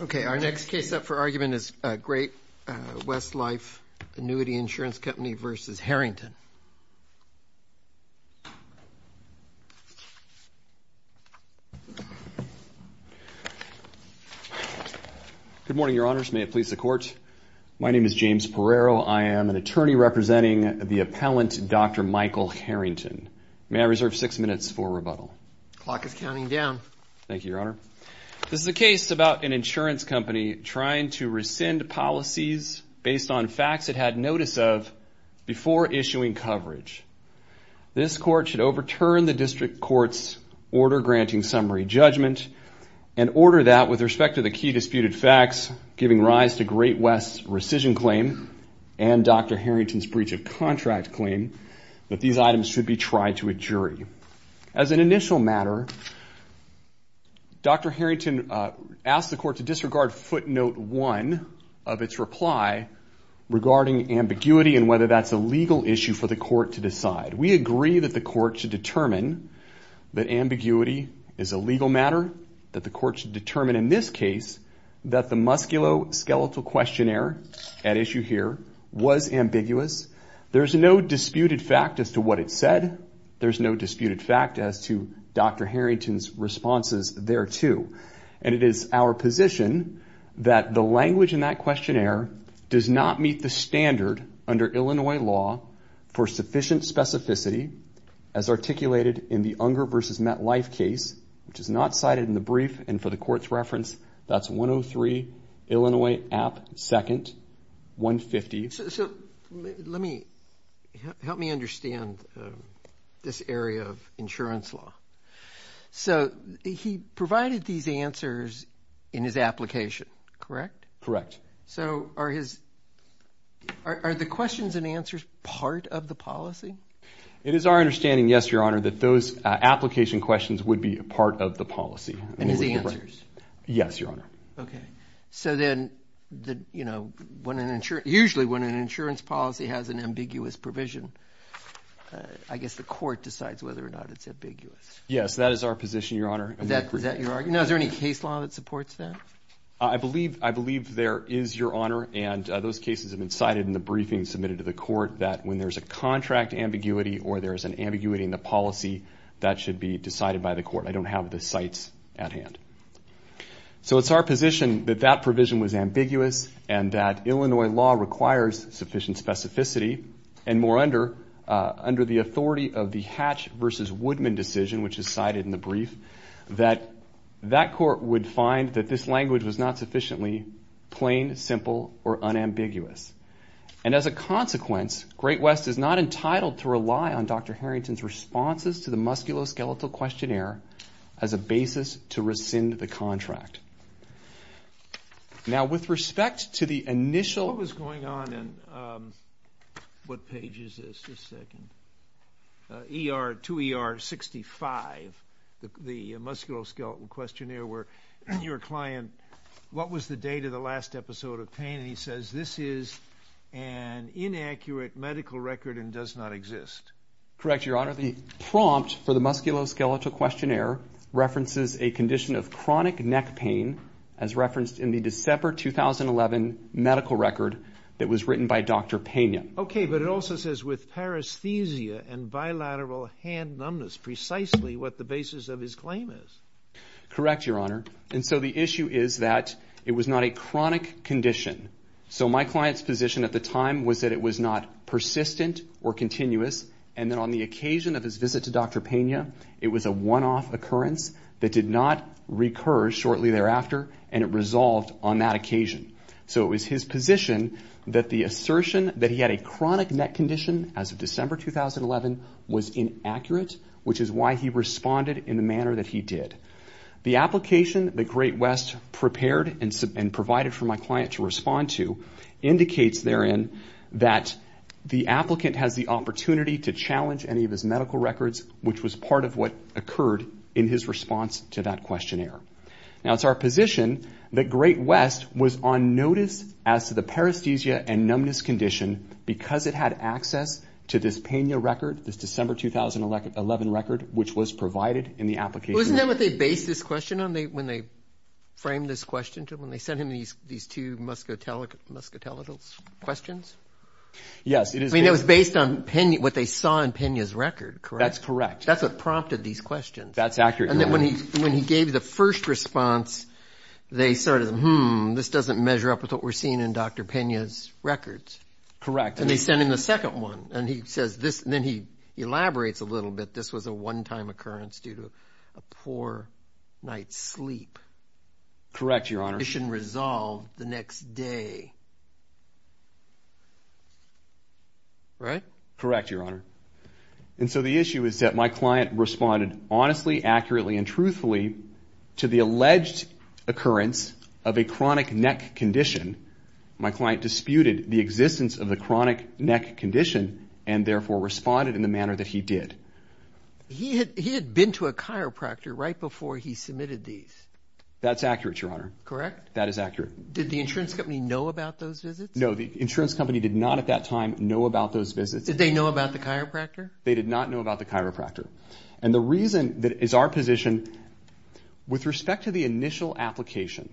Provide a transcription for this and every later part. Okay, our next case up for argument is Great-West Life & Annuity Insurance Company v. Harrington. Good morning, Your Honors. May it please the Court? My name is James Perrero. I am an attorney representing the appellant, Dr. Michael Harrington. May I reserve six minutes for rebuttal? Clock is counting down. Thank you, Your Honor. This is a case about an insurance company trying to rescind policies based on facts it had notice of before issuing coverage. This Court should overturn the District Court's order granting summary judgment and order that, with respect to the key disputed facts, giving rise to Great-West's rescission claim and Dr. Harrington's breach of contract claim, that these items should be tried to a jury. As an initial matter, Dr. Harrington asked the Court to disregard footnote one of its reply regarding ambiguity and whether that's a legal issue for the Court to decide. We agree that the Court should determine that ambiguity is a legal matter, that the Court should determine in this case that the musculoskeletal questionnaire at issue here was ambiguous. There's no disputed fact as to what it said. There's no disputed fact as to Dr. Harrington's responses thereto. And it is our position that the language in that questionnaire does not meet the standard under Illinois law for sufficient specificity as articulated in the Unger v. MetLife case, which is not cited in the brief, and for the Court's reference, that's 103 Illinois App. 2nd, 150. So let me – help me understand this area of insurance law. So he provided these answers in his application, correct? Correct. So are his – are the questions and answers part of the policy? It is our understanding, yes, Your Honor, that those application questions would be part of the policy. And his answers? Yes, Your Honor. Okay. So then, you know, when an – usually when an insurance policy has an ambiguous provision, I guess the Court decides whether or not it's ambiguous. Yes, that is our position, Your Honor. Is that your argument? No, is there any case law that supports that? I believe there is, Your Honor, and those cases have been cited in the briefing submitted to the Court, that when there's a contract ambiguity or there's an ambiguity in the policy, that should be decided by the Court. I don't have the cites at hand. So it's our position that that provision was ambiguous and that Illinois law requires sufficient specificity, and more under the authority of the Hatch v. Woodman decision, which is cited in the brief, that that Court would find that this language was not sufficiently plain, simple, or unambiguous. And as a consequence, Great West is not entitled to rely on Dr. Harrington's responses to the musculoskeletal questionnaire as a basis to rescind the contract. Now, with respect to the initial – What was going on in – what page is this? Just a second. ER – to ER 65, the musculoskeletal questionnaire, where your client – what was the date of the last episode of pain? And he says, this is an inaccurate medical record and does not exist. Correct, Your Honor. The prompt for the musculoskeletal questionnaire references a condition of chronic neck pain as referenced in the December 2011 medical record that was written by Dr. Pena. Okay, but it also says, with paresthesia and bilateral hand numbness, precisely what the basis of his claim is. Correct, Your Honor. And so the issue is that it was not a chronic condition. So my client's position at the time was that it was not persistent or continuous, and that on the occasion of his visit to Dr. Pena, it was a one-off occurrence that did not recur shortly thereafter, and it resolved on that occasion. So it was his position that the assertion that he had a chronic neck condition as of December 2011 was inaccurate, which is why he responded in the manner that he did. The application that Great West prepared and provided for my client to respond to that the applicant has the opportunity to challenge any of his medical records, which was part of what occurred in his response to that questionnaire. Now, it's our position that Great West was on notice as to the paresthesia and numbness condition because it had access to this Pena record, this December 2011 record, which was provided in the application. Wasn't that what they based this question on when they framed this question to him, when they sent him these two muscotelicals questions? Yes. I mean, it was based on what they saw in Pena's record, correct? That's correct. That's what prompted these questions. That's accurate. And then when he gave the first response, they sort of, hmm, this doesn't measure up with what we're seeing in Dr. Pena's records. Correct. And they sent him the second one, and he says this, and then he elaborates a little bit, this was a one-time occurrence due to a poor night's sleep. Correct, Your Honor. It shouldn't resolve the next day, right? Correct, Your Honor. And so the issue is that my client responded honestly, accurately, and truthfully to the alleged occurrence of a chronic neck condition. My client disputed the existence of the chronic neck condition and therefore responded in the manner that he did. He had been to a chiropractor right before he submitted these. That's accurate, Your Honor. Correct? That is accurate. Did the insurance company know about those visits? No, the insurance company did not at that time know about those visits. Did they know about the chiropractor? They did not know about the chiropractor. And the reason that is our position, with respect to the initial application,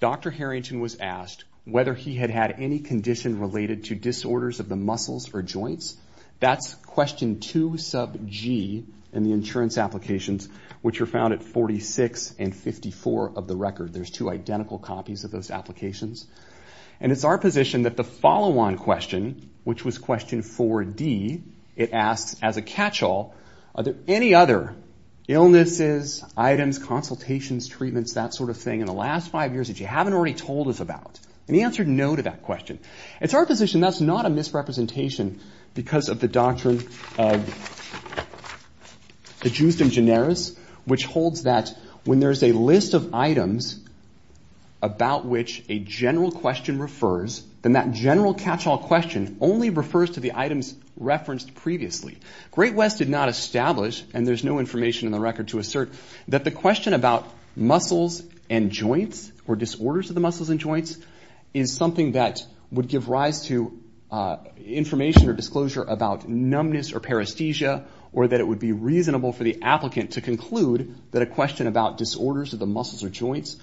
Dr. Harrington was asked whether he had had any condition related to disorders of the muscles or joints. That's question 2 sub G in the insurance applications, which are found at 46 and 54 of the record. There's two identical copies of those applications. And it's our position that the follow-on question, which was question 4D, it asks, as a catch-all, are there any other illnesses, items, consultations, treatments, that sort of thing in the last five years that you haven't already told us about? And he answered no to that question. It's our position that's not a misrepresentation because of the Doctrine of the Justum Generis, which holds that when there's a list of items about which a general question refers, then that general catch-all question only refers to the items referenced previously. Great West did not establish, and there's no information in the record to assert, that the question about muscles and joints or disorders of the muscles and joints is something that would give rise to information or disclosure about numbness or paresthesia, or that it would be reasonable for the applicant to conclude that a question about disorders of the muscles or joints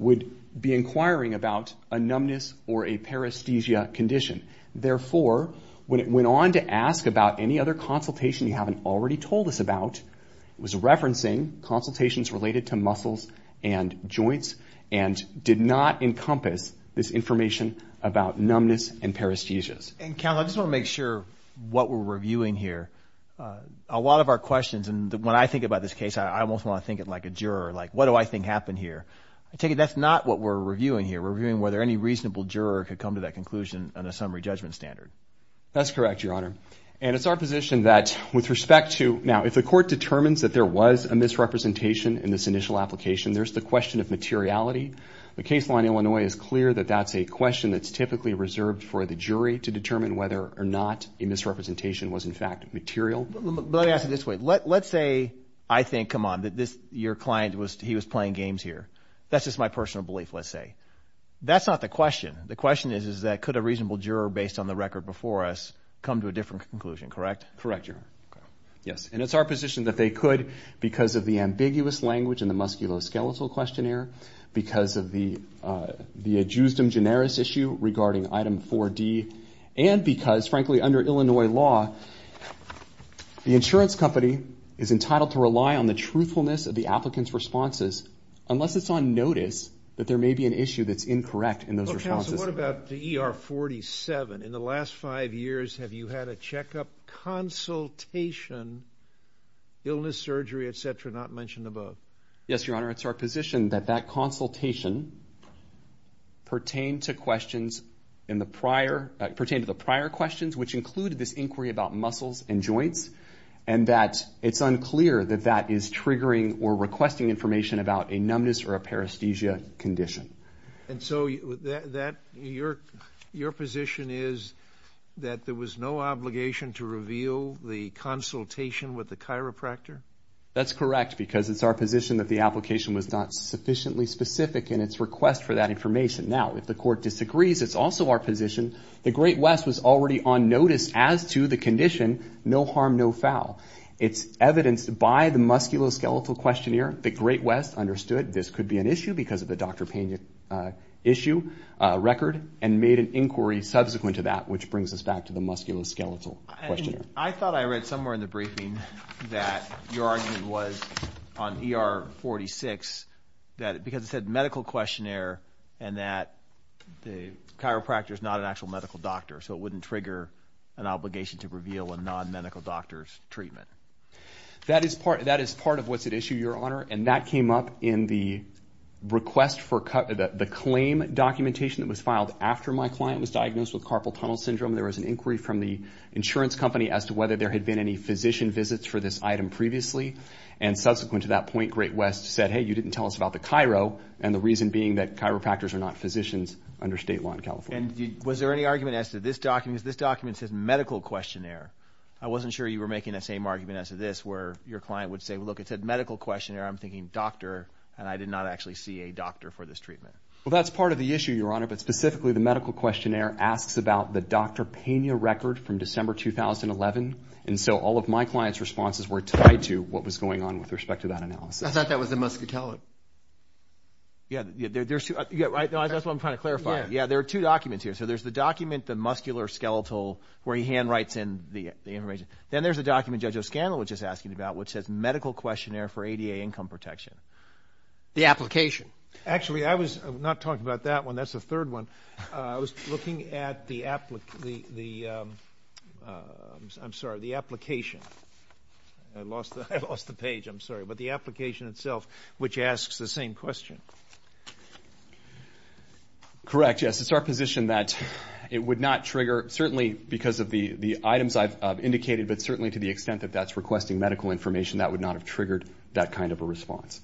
would be inquiring about a numbness or a paresthesia condition. Therefore, when it went on to ask about any other consultation you haven't already told us about, it was referencing consultations related to muscles and joints and did not encompass this information about numbness and paresthesias. And, counsel, I just want to make sure what we're reviewing here. A lot of our questions, and when I think about this case, I almost want to think it like a juror, like, what do I think happened here? I take it that's not what we're reviewing here. We're reviewing whether any reasonable juror could come to that conclusion on a summary judgment standard. That's correct, Your Honor. And it's our position that with respect to... Now, if the court determines that there was a misrepresentation in this initial application, there's the question of materiality. The case law in Illinois is clear that that's a question that's typically reserved for the jury to determine whether or not a misrepresentation was, in fact, material. But let me ask it this way. Let's say I think, come on, that your client, he was playing games here. That's just my personal belief, let's say. That's not the question. The question is, is that could a reasonable juror, based on the record before us, come to a different conclusion, correct? Correct, Your Honor. Yes, and it's our position that they could because of the ambiguous language in the musculoskeletal questionnaire, because of the adjustum generis issue regarding Item 4D, and because, frankly, under Illinois law, the insurance company is entitled to rely on the truthfulness of the applicant's responses unless it's on notice that there may be an issue that's incorrect in those responses. Counsel, what about the ER 47? In the last five years, have you had a checkup, consultation, illness, surgery, et cetera, not mentioned above? Yes, Your Honor. It's our position that that consultation pertained to questions in the prior, pertained to the prior questions, which included this inquiry about muscles and joints, and that it's unclear that that is triggering or requesting information about a numbness or a paresthesia condition. And so your position is that there was no obligation to reveal the consultation with the chiropractor? That's correct, because it's our position that the application was not sufficiently specific in its request for that information. Now, if the Court disagrees, it's also our position the Great West was already on notice as to the condition, no harm, no foul. It's evidenced by the musculoskeletal questionnaire. The Great West understood this could be an issue because of the Dr. Pena issue record, and made an inquiry subsequent to that, which brings us back to the musculoskeletal questionnaire. I thought I read somewhere in the briefing that your argument was on ER 46, because it said medical questionnaire and that the chiropractor is not an actual medical doctor, so it wouldn't trigger an obligation to reveal a non-medical doctor's treatment. That is part of what's at issue, Your Honor, and that came up in the claim documentation that was filed after my client was diagnosed with carpal tunnel syndrome. There was an inquiry from the insurance company as to whether there had been any physician visits for this item previously, and subsequent to that point, Great West said, hey, you didn't tell us about the chiro, and the reason being that chiropractors are not physicians under state law in California. And was there any argument as to this document? Because this document says medical questionnaire. I wasn't sure you were making that same argument as to this, where your client would say, look, it said medical questionnaire. I'm thinking doctor, and I did not actually see a doctor for this treatment. Well, that's part of the issue, Your Honor, but specifically the medical questionnaire asks about the Dr. Pena record from December 2011, and so all of my client's responses were tied to what was going on with respect to that analysis. I thought that was the muscitella. Yeah, that's what I'm trying to clarify. Yeah, there are two documents here. So there's the document, the muscular skeletal, where he handwrites in the information. Then there's a document Judge O'Scanlan was just asking about which says medical questionnaire for ADA income protection. The application. Actually, I was not talking about that one. That's the third one. I was looking at the application. I lost the page, I'm sorry. But the application itself, which asks the same question. Correct, yes. It's our position that it would not trigger, certainly because of the items I've indicated, but certainly to the extent that that's requesting medical information, that would not have triggered that kind of a response.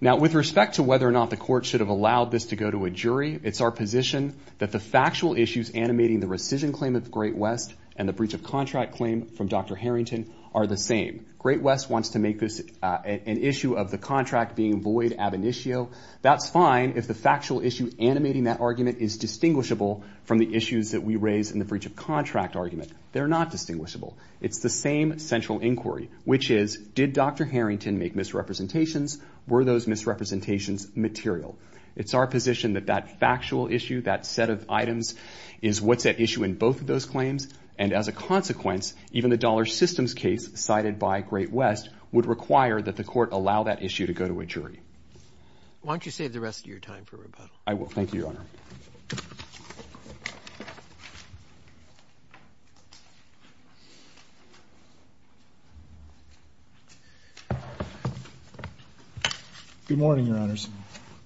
Now, with respect to whether or not the court should have allowed this to go to a jury, it's our position that the factual issues animating the rescission claim of Great West and the breach of contract claim from Dr. Harrington are the same. Great West wants to make this an issue of the contract being void ab initio. That's fine if the factual issue animating that argument is distinguishable from the issues that we raise in the breach of contract argument. They're not distinguishable. It's the same central inquiry, which is, did Dr. Harrington make misrepresentations? Were those misrepresentations material? It's our position that that factual issue, that set of items, is what's at issue in both of those claims. And as a consequence, even the dollar systems case cited by Great West would require that the court allow that issue to go to a jury. Why don't you save the rest of your time for rebuttal? I will. Thank you, Your Honor. Good morning, Your Honors.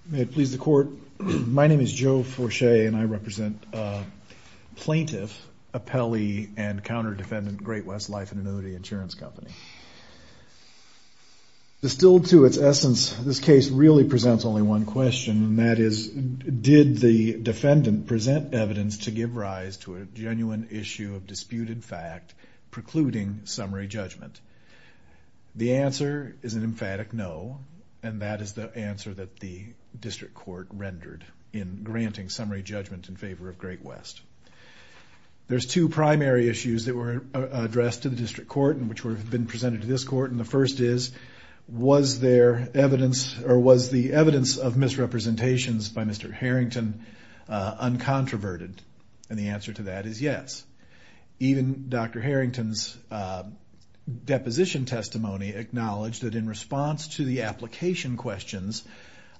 May it please the court. My name is Joe Forche and I represent plaintiff, appellee, and counter-defendant Great West Life and Anody Insurance Company. Distilled to its essence, this case really presents only one question, and that is, did the defendant present evidence to give rise to a genuine issue of disputed fact precluding summary judgment? The answer is an emphatic no, and that is the answer that the district court rendered in granting summary judgment in favor of Great West. There's two primary issues that were addressed to the district court and which have been presented to this court, and the first is, was the evidence of misrepresentations by Mr. Harrington uncontroverted? And the answer to that is yes. Even Dr. Harrington's deposition testimony acknowledged that in response to the application questions,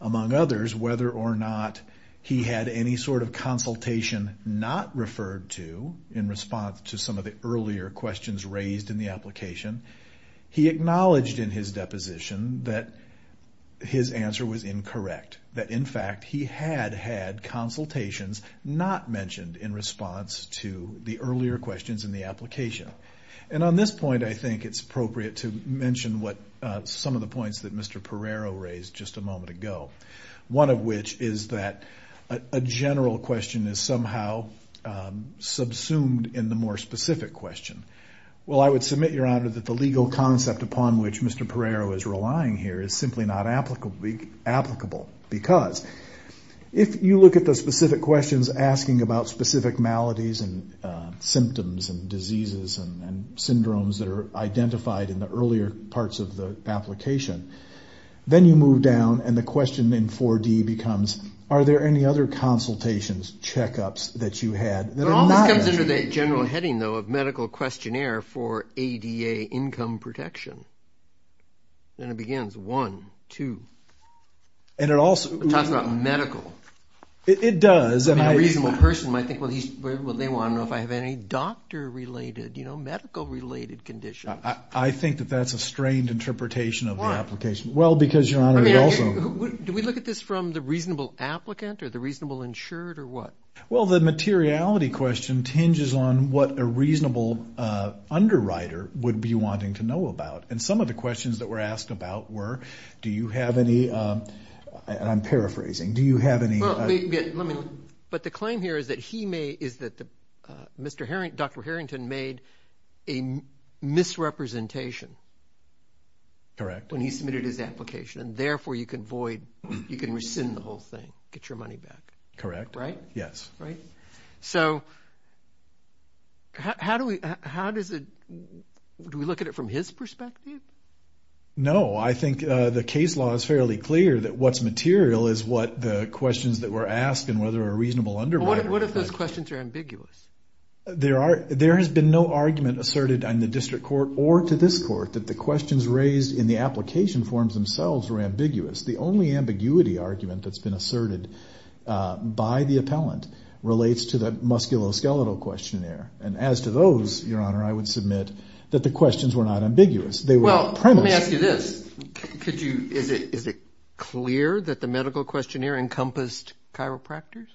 among others, whether or not he had any sort of consultation not referred to in response to some of the earlier questions raised in the application, he acknowledged in his deposition that his answer was incorrect, that in fact he had had consultations not mentioned in response to the earlier questions in the application. And on this point, I think it's appropriate to mention some of the points that Mr. Perrero raised just a moment ago, one of which is that a general question is somehow subsumed in the more specific question. Well, I would submit, Your Honor, that the legal concept upon which Mr. Perrero is relying here is simply not applicable because if you look at the specific questions asking about specific maladies and symptoms and diseases and syndromes that are identified in the earlier parts of the application, then you move down and the question in 4D becomes, are there any other consultations, checkups, that you had that are not? This comes under the general heading, though, of medical questionnaire for ADA income protection. Then it begins, one, two. It talks about medical. It does. A reasonable person might think, well, they want to know if I have any doctor-related, medical-related conditions. I think that that's a strained interpretation of the application. Why? Well, because, Your Honor, it also— Do we look at this from the reasonable applicant or the reasonable insured or what? Well, the materiality question tinges on what a reasonable underwriter would be wanting to know about. Some of the questions that were asked about were, do you have any— I'm paraphrasing. Do you have any— But the claim here is that he may— is that Dr. Harrington made a misrepresentation when he submitted his application, and therefore you can void— you can rescind the whole thing, get your money back. Correct. Right? Yes. Right? So how do we—how does it—do we look at it from his perspective? No. I think the case law is fairly clear that what's material is what the questions that were asked and whether a reasonable underwriter— What if those questions are ambiguous? There has been no argument asserted on the district court or to this court that the questions raised in the application forms themselves were ambiguous. The only ambiguity argument that's been asserted by the appellant relates to the musculoskeletal questionnaire. And as to those, Your Honor, I would submit that the questions were not ambiguous. They were premise. Well, let me ask you this. Could you—is it clear that the medical questionnaire encompassed chiropractors?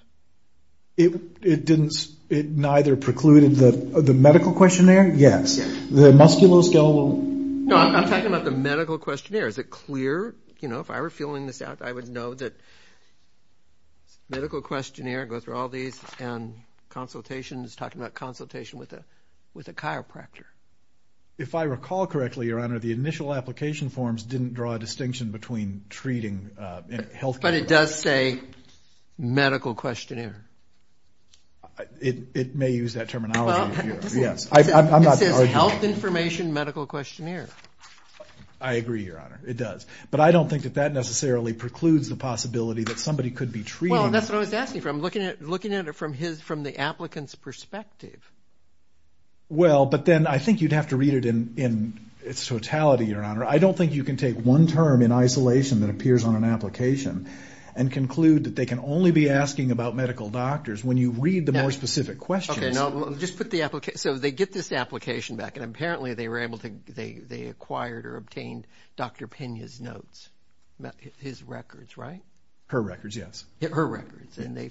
It didn't—it neither precluded the medical questionnaire. Yes. The musculoskeletal— No, I'm talking about the medical questionnaire. Is it clear? You know, if I were filling this out, I would know that medical questionnaire goes through all these and consultation is talking about consultation with a chiropractor. If I recall correctly, Your Honor, the initial application forms didn't draw a distinction between treating and health— But it does say medical questionnaire. It may use that terminology here. It says health information medical questionnaire. I agree, Your Honor. It does. But I don't think that that necessarily precludes the possibility that somebody could be treating— Well, that's what I was asking for. I'm looking at it from the applicant's perspective. Well, but then I think you'd have to read it in its totality, Your Honor. I don't think you can take one term in isolation that appears on an application and conclude that they can only be asking about medical doctors. When you read the more specific questions— Okay, no. Just put the—so they get this application back, and apparently they were able to— they acquired or obtained Dr. Pena's notes, his records, right? Her records, yes. Her records, and they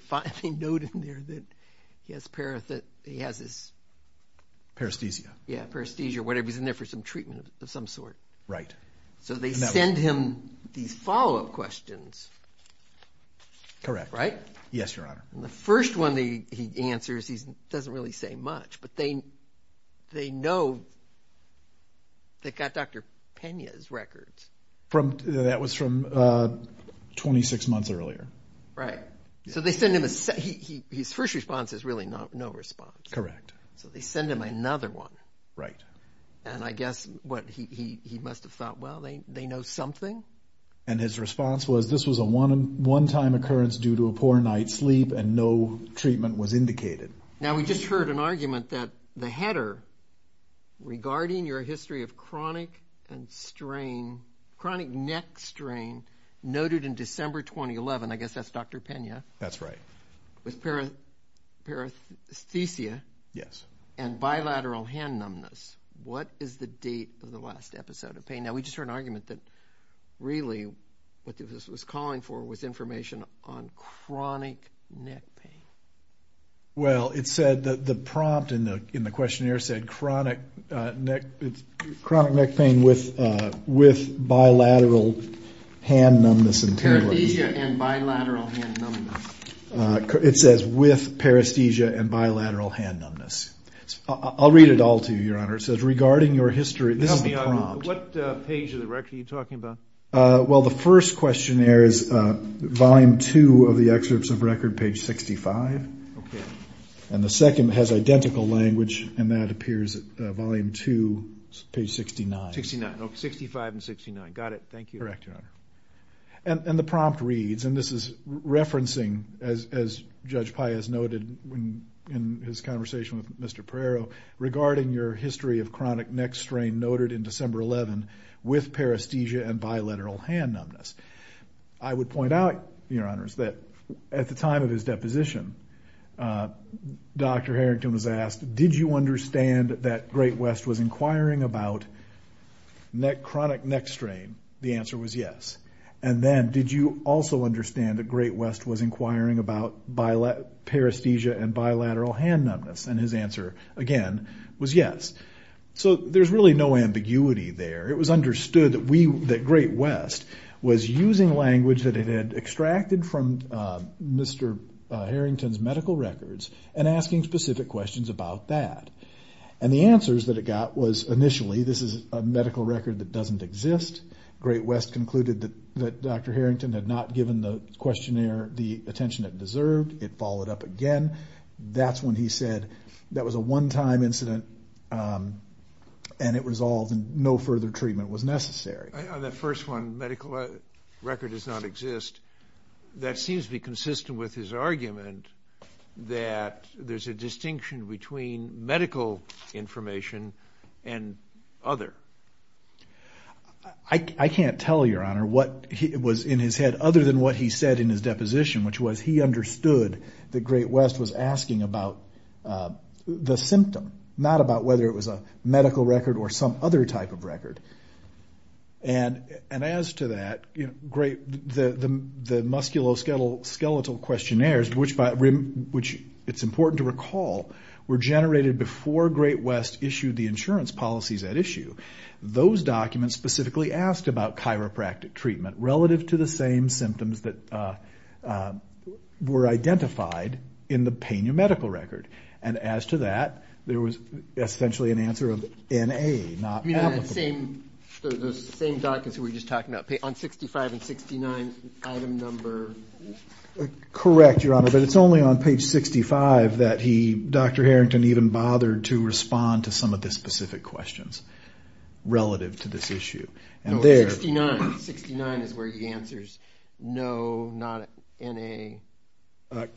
note in there that he has his— Parasthesia. Yeah, parasthesia or whatever. He's in there for some treatment of some sort. Right. So they send him these follow-up questions. Correct. Right? Yes, Your Honor. And the first one he answers, he doesn't really say much, but they know they got Dr. Pena's records. That was from 26 months earlier. Right. So they send him a—his first response is really no response. Correct. So they send him another one. Right. And I guess what he must have thought, well, they know something. And his response was, this was a one-time occurrence due to a poor night's sleep, and no treatment was indicated. Now we just heard an argument that the header, regarding your history of chronic and strain, chronic neck strain noted in December 2011, I guess that's Dr. Pena. That's right. With parathesia. Yes. And bilateral hand numbness. What is the date of the last episode of pain? Now we just heard an argument that really what this was calling for was information on chronic neck pain. Well, it said that the prompt in the questionnaire said, chronic neck pain with bilateral hand numbness. Parathesia and bilateral hand numbness. It says with parathesia and bilateral hand numbness. I'll read it all to you, Your Honor. It says, regarding your history—this is the prompt. What page of the record are you talking about? Well, the first questionnaire is volume 2 of the excerpts of record, page 65. And the second has identical language, and that appears at volume 2, page 69. 65 and 69. Got it. Thank you. Correct, Your Honor. And the prompt reads, and this is referencing, as Judge Pai has noted in his conversation with Mr. Perreiro, regarding your history of chronic neck strain noted in December 2011 with parathesia and bilateral hand numbness. I would point out, Your Honors, that at the time of his deposition, Dr. Harrington was asked, did you understand that Great West was inquiring about chronic neck strain? The answer was yes. And then, did you also understand that Great West was inquiring about parathesia and bilateral hand numbness? And his answer, again, was yes. So there's really no ambiguity there. It was understood that Great West was using language that it had extracted from Mr. Harrington's medical records and asking specific questions about that. And the answers that it got was, initially, this is a medical record that doesn't exist. Great West concluded that Dr. Harrington had not given the questionnaire the attention it deserved. It followed up again. That's when he said that was a one-time incident, and it resolved and no further treatment was necessary. On that first one, medical record does not exist, that seems to be consistent with his argument that there's a distinction between medical information and other. I can't tell, Your Honor, what was in his head, other than what he said in his deposition, which was he understood that Great West was asking about the symptom, not about whether it was a medical record or some other type of record. And as to that, the musculoskeletal questionnaires, which it's important to recall, were generated before Great West issued the insurance policies at issue. Those documents specifically asked about chiropractic treatment relative to the same symptoms that were identified in the Pena medical record. And as to that, there was essentially an answer of N-A, not applicable. The same documents we were just talking about, on 65 and 69, item number? Correct, Your Honor, but it's only on page 65 that he, Dr. Harrington, even bothered to respond to some of the specific questions relative to this issue. No, 69. 69 is where he answers no, not N-A.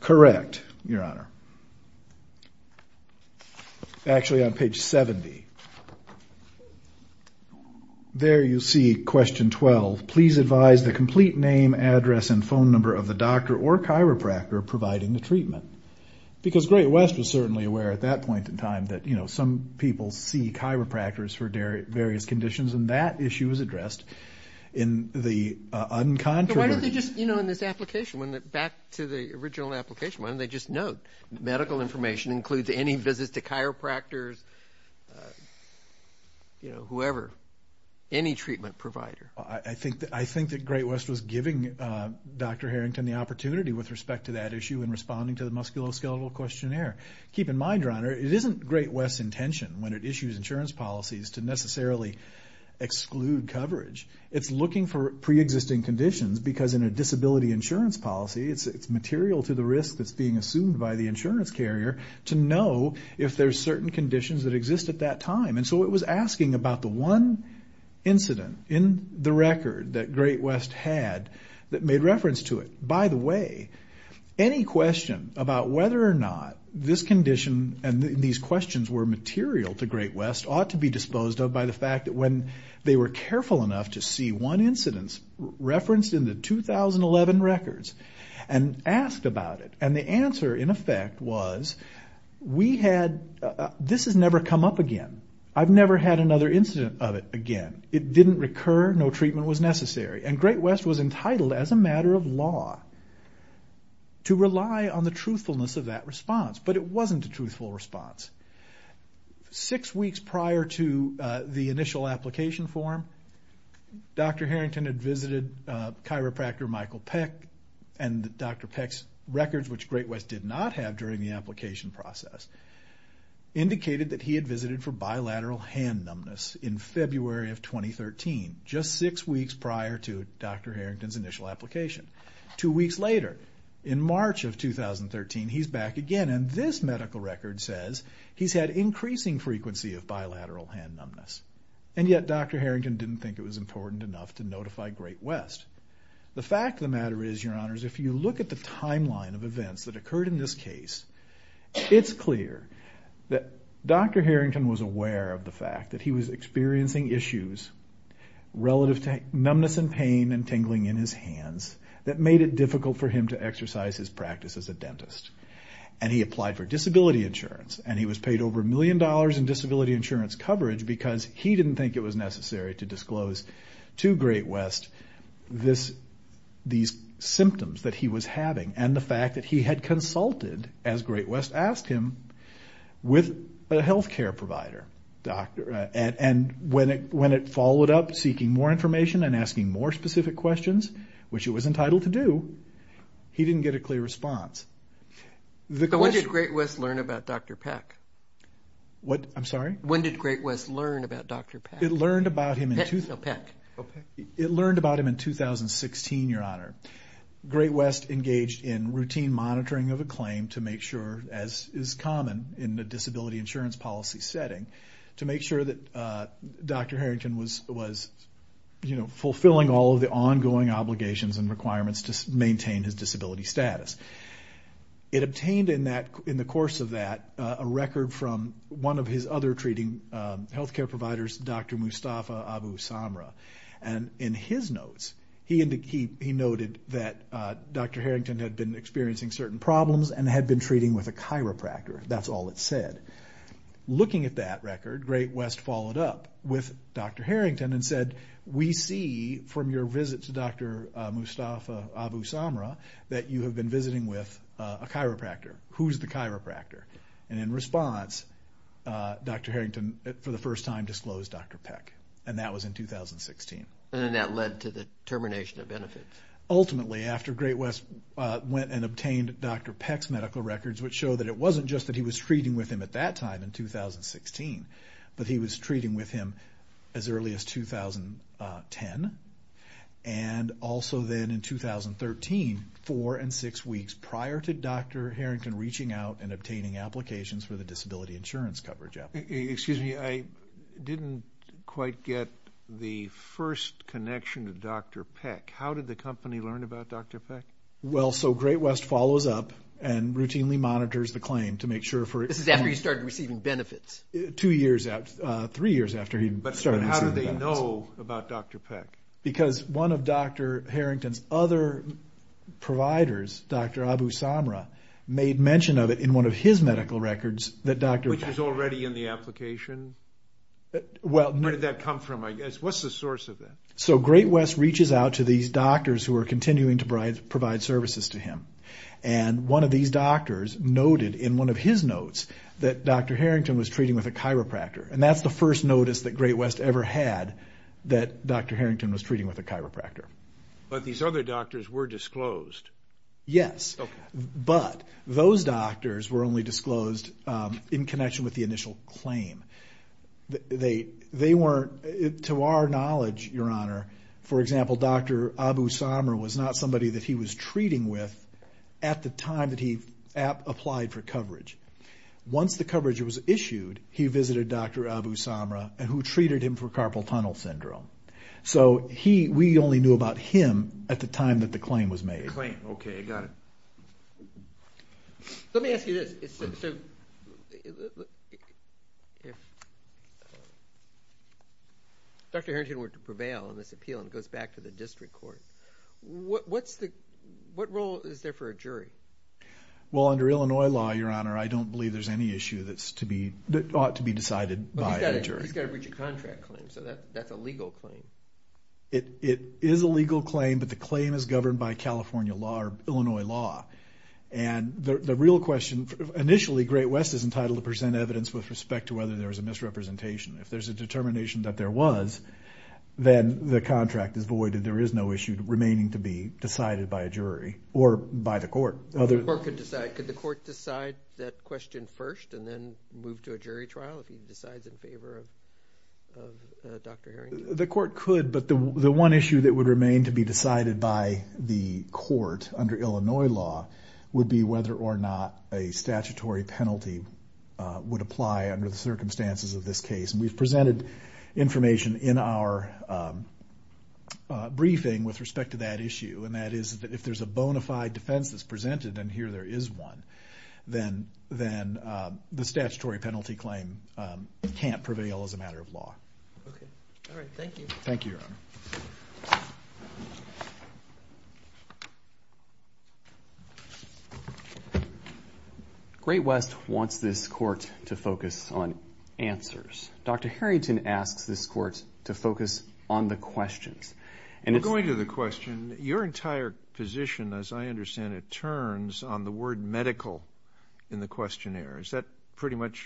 Correct, Your Honor. Actually, on page 70. There you see question 12, please advise the complete name, address, and phone number of the doctor or chiropractor providing the treatment. Because Great West was certainly aware at that point in time that some people see chiropractors for various conditions, and that issue was addressed in the uncontroversial. But why did they just, you know, in this application, back to the original application, why didn't they just note, medical information includes any visits to chiropractors, you know, whoever, any treatment provider? I think that Great West was giving Dr. Harrington the opportunity with respect to that issue in responding to the musculoskeletal questionnaire. Keep in mind, Your Honor, it isn't Great West's intention, when it issues insurance policies, to necessarily exclude coverage. It's looking for preexisting conditions, because in a disability insurance policy, it's material to the risk that's being assumed by the insurance carrier to know if there's certain conditions that exist at that time. And so it was asking about the one incident in the record that Great West had that made reference to it. By the way, any question about whether or not this condition and these questions were material to Great West ought to be disposed of by the fact that when they were careful enough to see one incidence referenced in the 2011 records and asked about it, and the answer, in effect, was, we had, this has never come up again. I've never had another incident of it again. It didn't recur. No treatment was necessary. And Great West was entitled, as a matter of law, to rely on the truthfulness of that response. But it wasn't a truthful response. Six weeks prior to the initial application form, Dr. Harrington had visited chiropractor Michael Peck, and Dr. Peck's records, which Great West did not have during the application process, indicated that he had visited for bilateral hand numbness in February of 2013, just six weeks prior to Dr. Harrington's initial application. Two weeks later, in March of 2013, he's back again, and this medical record says he's had increasing frequency of bilateral hand numbness. And yet Dr. Harrington didn't think it was important enough to notify Great West. The fact of the matter is, Your Honors, if you look at the timeline of events that occurred in this case, it's clear that Dr. Harrington was aware of the fact that he was experiencing issues relative to numbness and pain and tingling in his hands that made it difficult for him to exercise his practice as a dentist. And he applied for disability insurance, and he was paid over a million dollars in disability insurance coverage because he didn't think it was necessary to disclose to Great West these symptoms that he was having and the fact that he had consulted, as Great West asked him, with a health care provider. And when it followed up seeking more information and asking more specific questions, which it was entitled to do, he didn't get a clear response. When did Great West learn about Dr. Peck? What? I'm sorry? When did Great West learn about Dr. Peck? It learned about him in 2016, Your Honor. Great West engaged in routine monitoring of a claim to make sure, as is common in the disability insurance policy setting, to make sure that Dr. Harrington was, you know, It obtained in the course of that a record from one of his other treating health care providers, Dr. Mustafa Abu Samra. And in his notes, he noted that Dr. Harrington had been experiencing certain problems and had been treating with a chiropractor. That's all it said. Looking at that record, Great West followed up with Dr. Harrington and said, We see from your visit to Dr. Mustafa Abu Samra that you have been visiting with a chiropractor. Who's the chiropractor? And in response, Dr. Harrington, for the first time, disclosed Dr. Peck. And that was in 2016. And that led to the termination of benefits. Ultimately, after Great West went and obtained Dr. Peck's medical records, which show that it wasn't just that he was treating with him at that time in 2016, but he was treating with him as early as 2010. And also then in 2013, four and six weeks prior to Dr. Harrington reaching out and obtaining applications for the disability insurance coverage. Excuse me. I didn't quite get the first connection to Dr. Peck. How did the company learn about Dr. Peck? Well, so Great West follows up and routinely monitors the claim to make sure for it. This is after he started receiving benefits. Two years after, three years after he started receiving benefits. But how did they know about Dr. Peck? Because one of Dr. Harrington's other providers, Dr. Abu Samra, made mention of it in one of his medical records that Dr. Peck. Which was already in the application? Where did that come from, I guess? What's the source of that? So Great West reaches out to these doctors who are continuing to provide services to him. And one of these doctors noted in one of his notes that Dr. Harrington was treating with a chiropractor. And that's the first notice that Great West ever had, that Dr. Harrington was treating with a chiropractor. But these other doctors were disclosed. Yes. Okay. But those doctors were only disclosed in connection with the initial claim. They weren't, to our knowledge, Your Honor, for example, Dr. Abu Samra was not somebody that he was treating with at the time that he applied for coverage. Once the coverage was issued, he visited Dr. Abu Samra, who treated him for carpal tunnel syndrome. So we only knew about him at the time that the claim was made. The claim, okay, got it. Let me ask you this. So if Dr. Harrington were to prevail on this appeal and it goes back to the district court, what role is there for a jury? Well, under Illinois law, Your Honor, I don't believe there's any issue that ought to be decided by a jury. But he's got to reach a contract claim, so that's a legal claim. It is a legal claim, but the claim is governed by California law or Illinois law. And the real question, initially, Great West is entitled to present evidence with respect to whether there was a misrepresentation. If there's a determination that there was, then the contract is voided. There is no issue remaining to be decided by a jury or by the court. The court could decide. Could the court decide that question first and then move to a jury trial if he decides in favor of Dr. Harrington? The court could, but the one issue that would remain to be decided by the court under Illinois law would be whether or not a statutory penalty would apply under the circumstances of this case. And we've presented information in our briefing with respect to that issue, and that is that if there's a bona fide defense that's presented, and here there is one, then the statutory penalty claim can't prevail as a matter of law. Okay. All right. Thank you. Thank you, Your Honor. Great West wants this court to focus on answers. Dr. Harrington asks this court to focus on the questions. We're going to the question. Your entire position, as I understand it, turns on the word medical in the questionnaire. Is that pretty much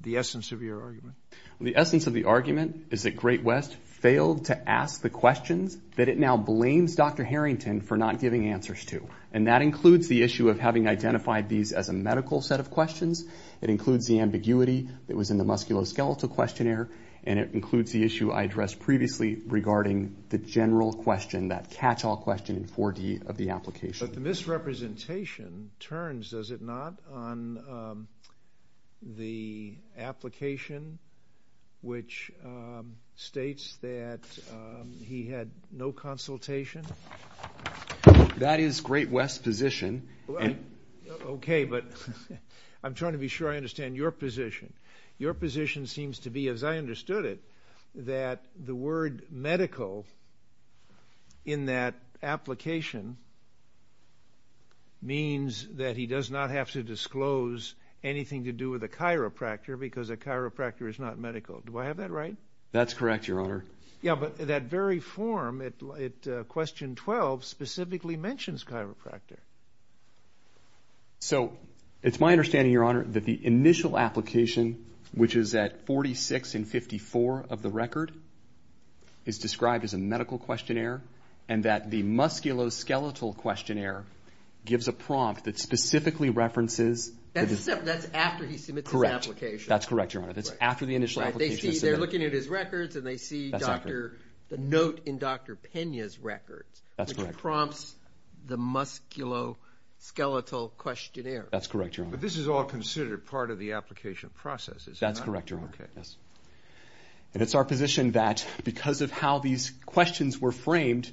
the essence of your argument? The essence of the argument is that Great West failed to ask the questions that it now blames Dr. Harrington for not giving answers to, and that includes the issue of having identified these as a medical set of questions. It includes the ambiguity that was in the musculoskeletal questionnaire, and it includes the issue I addressed previously regarding the general question, that catch-all question in 4D of the application. But the misrepresentation turns, does it not, on the application, which states that he had no consultation? That is Great West's position. Okay, but I'm trying to be sure I understand your position. Your position seems to be, as I understood it, that the word medical in that application means that he does not have to disclose anything to do with a chiropractor because a chiropractor is not medical. Do I have that right? That's correct, Your Honor. Yeah, but that very form at question 12 specifically mentions chiropractor. So it's my understanding, Your Honor, that the initial application, which is at 46 and 54 of the record, is described as a medical questionnaire, and that the musculoskeletal questionnaire gives a prompt that specifically references That's after he submits his application. That's correct, Your Honor. That's after the initial application is submitted. They're looking at his records, and they see the note in Dr. Pena's records, which prompts the musculoskeletal questionnaire. That's correct, Your Honor. But this is all considered part of the application process, is it not? That's correct, Your Honor. Okay. And it's our position that because of how these questions were framed,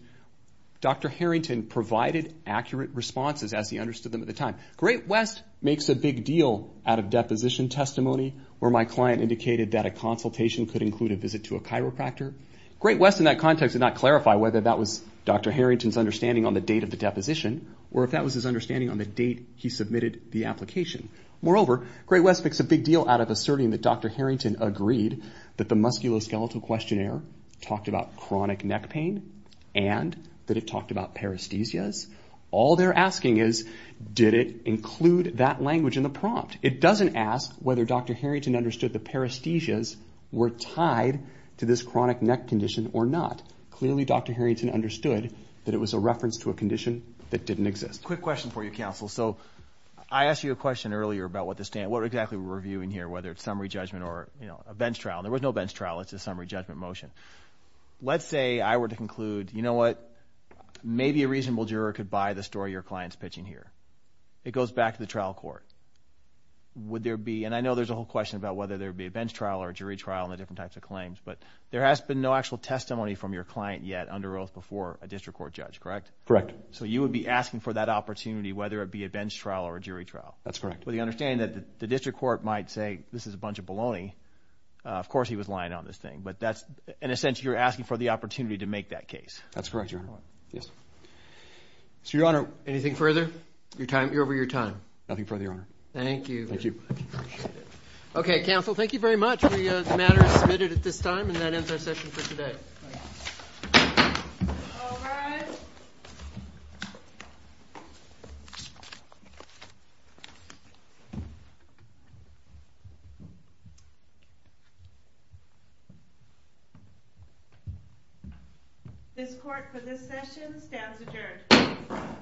Dr. Harrington provided accurate responses as he understood them at the time. Great West makes a big deal out of deposition testimony where my client indicated that a consultation could include a visit to a chiropractor. Great West, in that context, did not clarify whether that was Dr. Harrington's understanding on the date of the deposition or if that was his understanding on the date he submitted the application. Moreover, Great West makes a big deal out of asserting that Dr. Harrington agreed that the musculoskeletal questionnaire talked about chronic neck pain and that it talked about paresthesias. All they're asking is, did it include that language in the prompt? It doesn't ask whether Dr. Harrington understood the paresthesias were tied to this chronic neck condition or not. Clearly, Dr. Harrington understood that it was a reference to a condition that didn't exist. Quick question for you, counsel. So I asked you a question earlier about what exactly we're reviewing here, whether it's summary judgment or a bench trial. There was no bench trial. It's a summary judgment motion. Let's say I were to conclude, you know what, maybe a reasonable juror could buy the story your client's pitching here. It goes back to the trial court. Would there be, and I know there's a whole question about whether there would be a bench trial or a jury trial and the different types of claims, but there has been no actual testimony from your client yet under oath before a district court judge, correct? Correct. So you would be asking for that opportunity whether it be a bench trial or a jury trial? That's correct. With the understanding that the district court might say this is a bunch of baloney. Of course he was lying on this thing, but that's, in a sense, you're asking for the opportunity to make that case. That's correct, Your Honor. Yes. So, Your Honor. Anything further? You're over your time. Nothing further, Your Honor. Thank you. Thank you. Okay, counsel. Thank you very much. The matter is submitted at this time, and that ends our session for today. Thank you. All rise. This court for this session stands adjourned.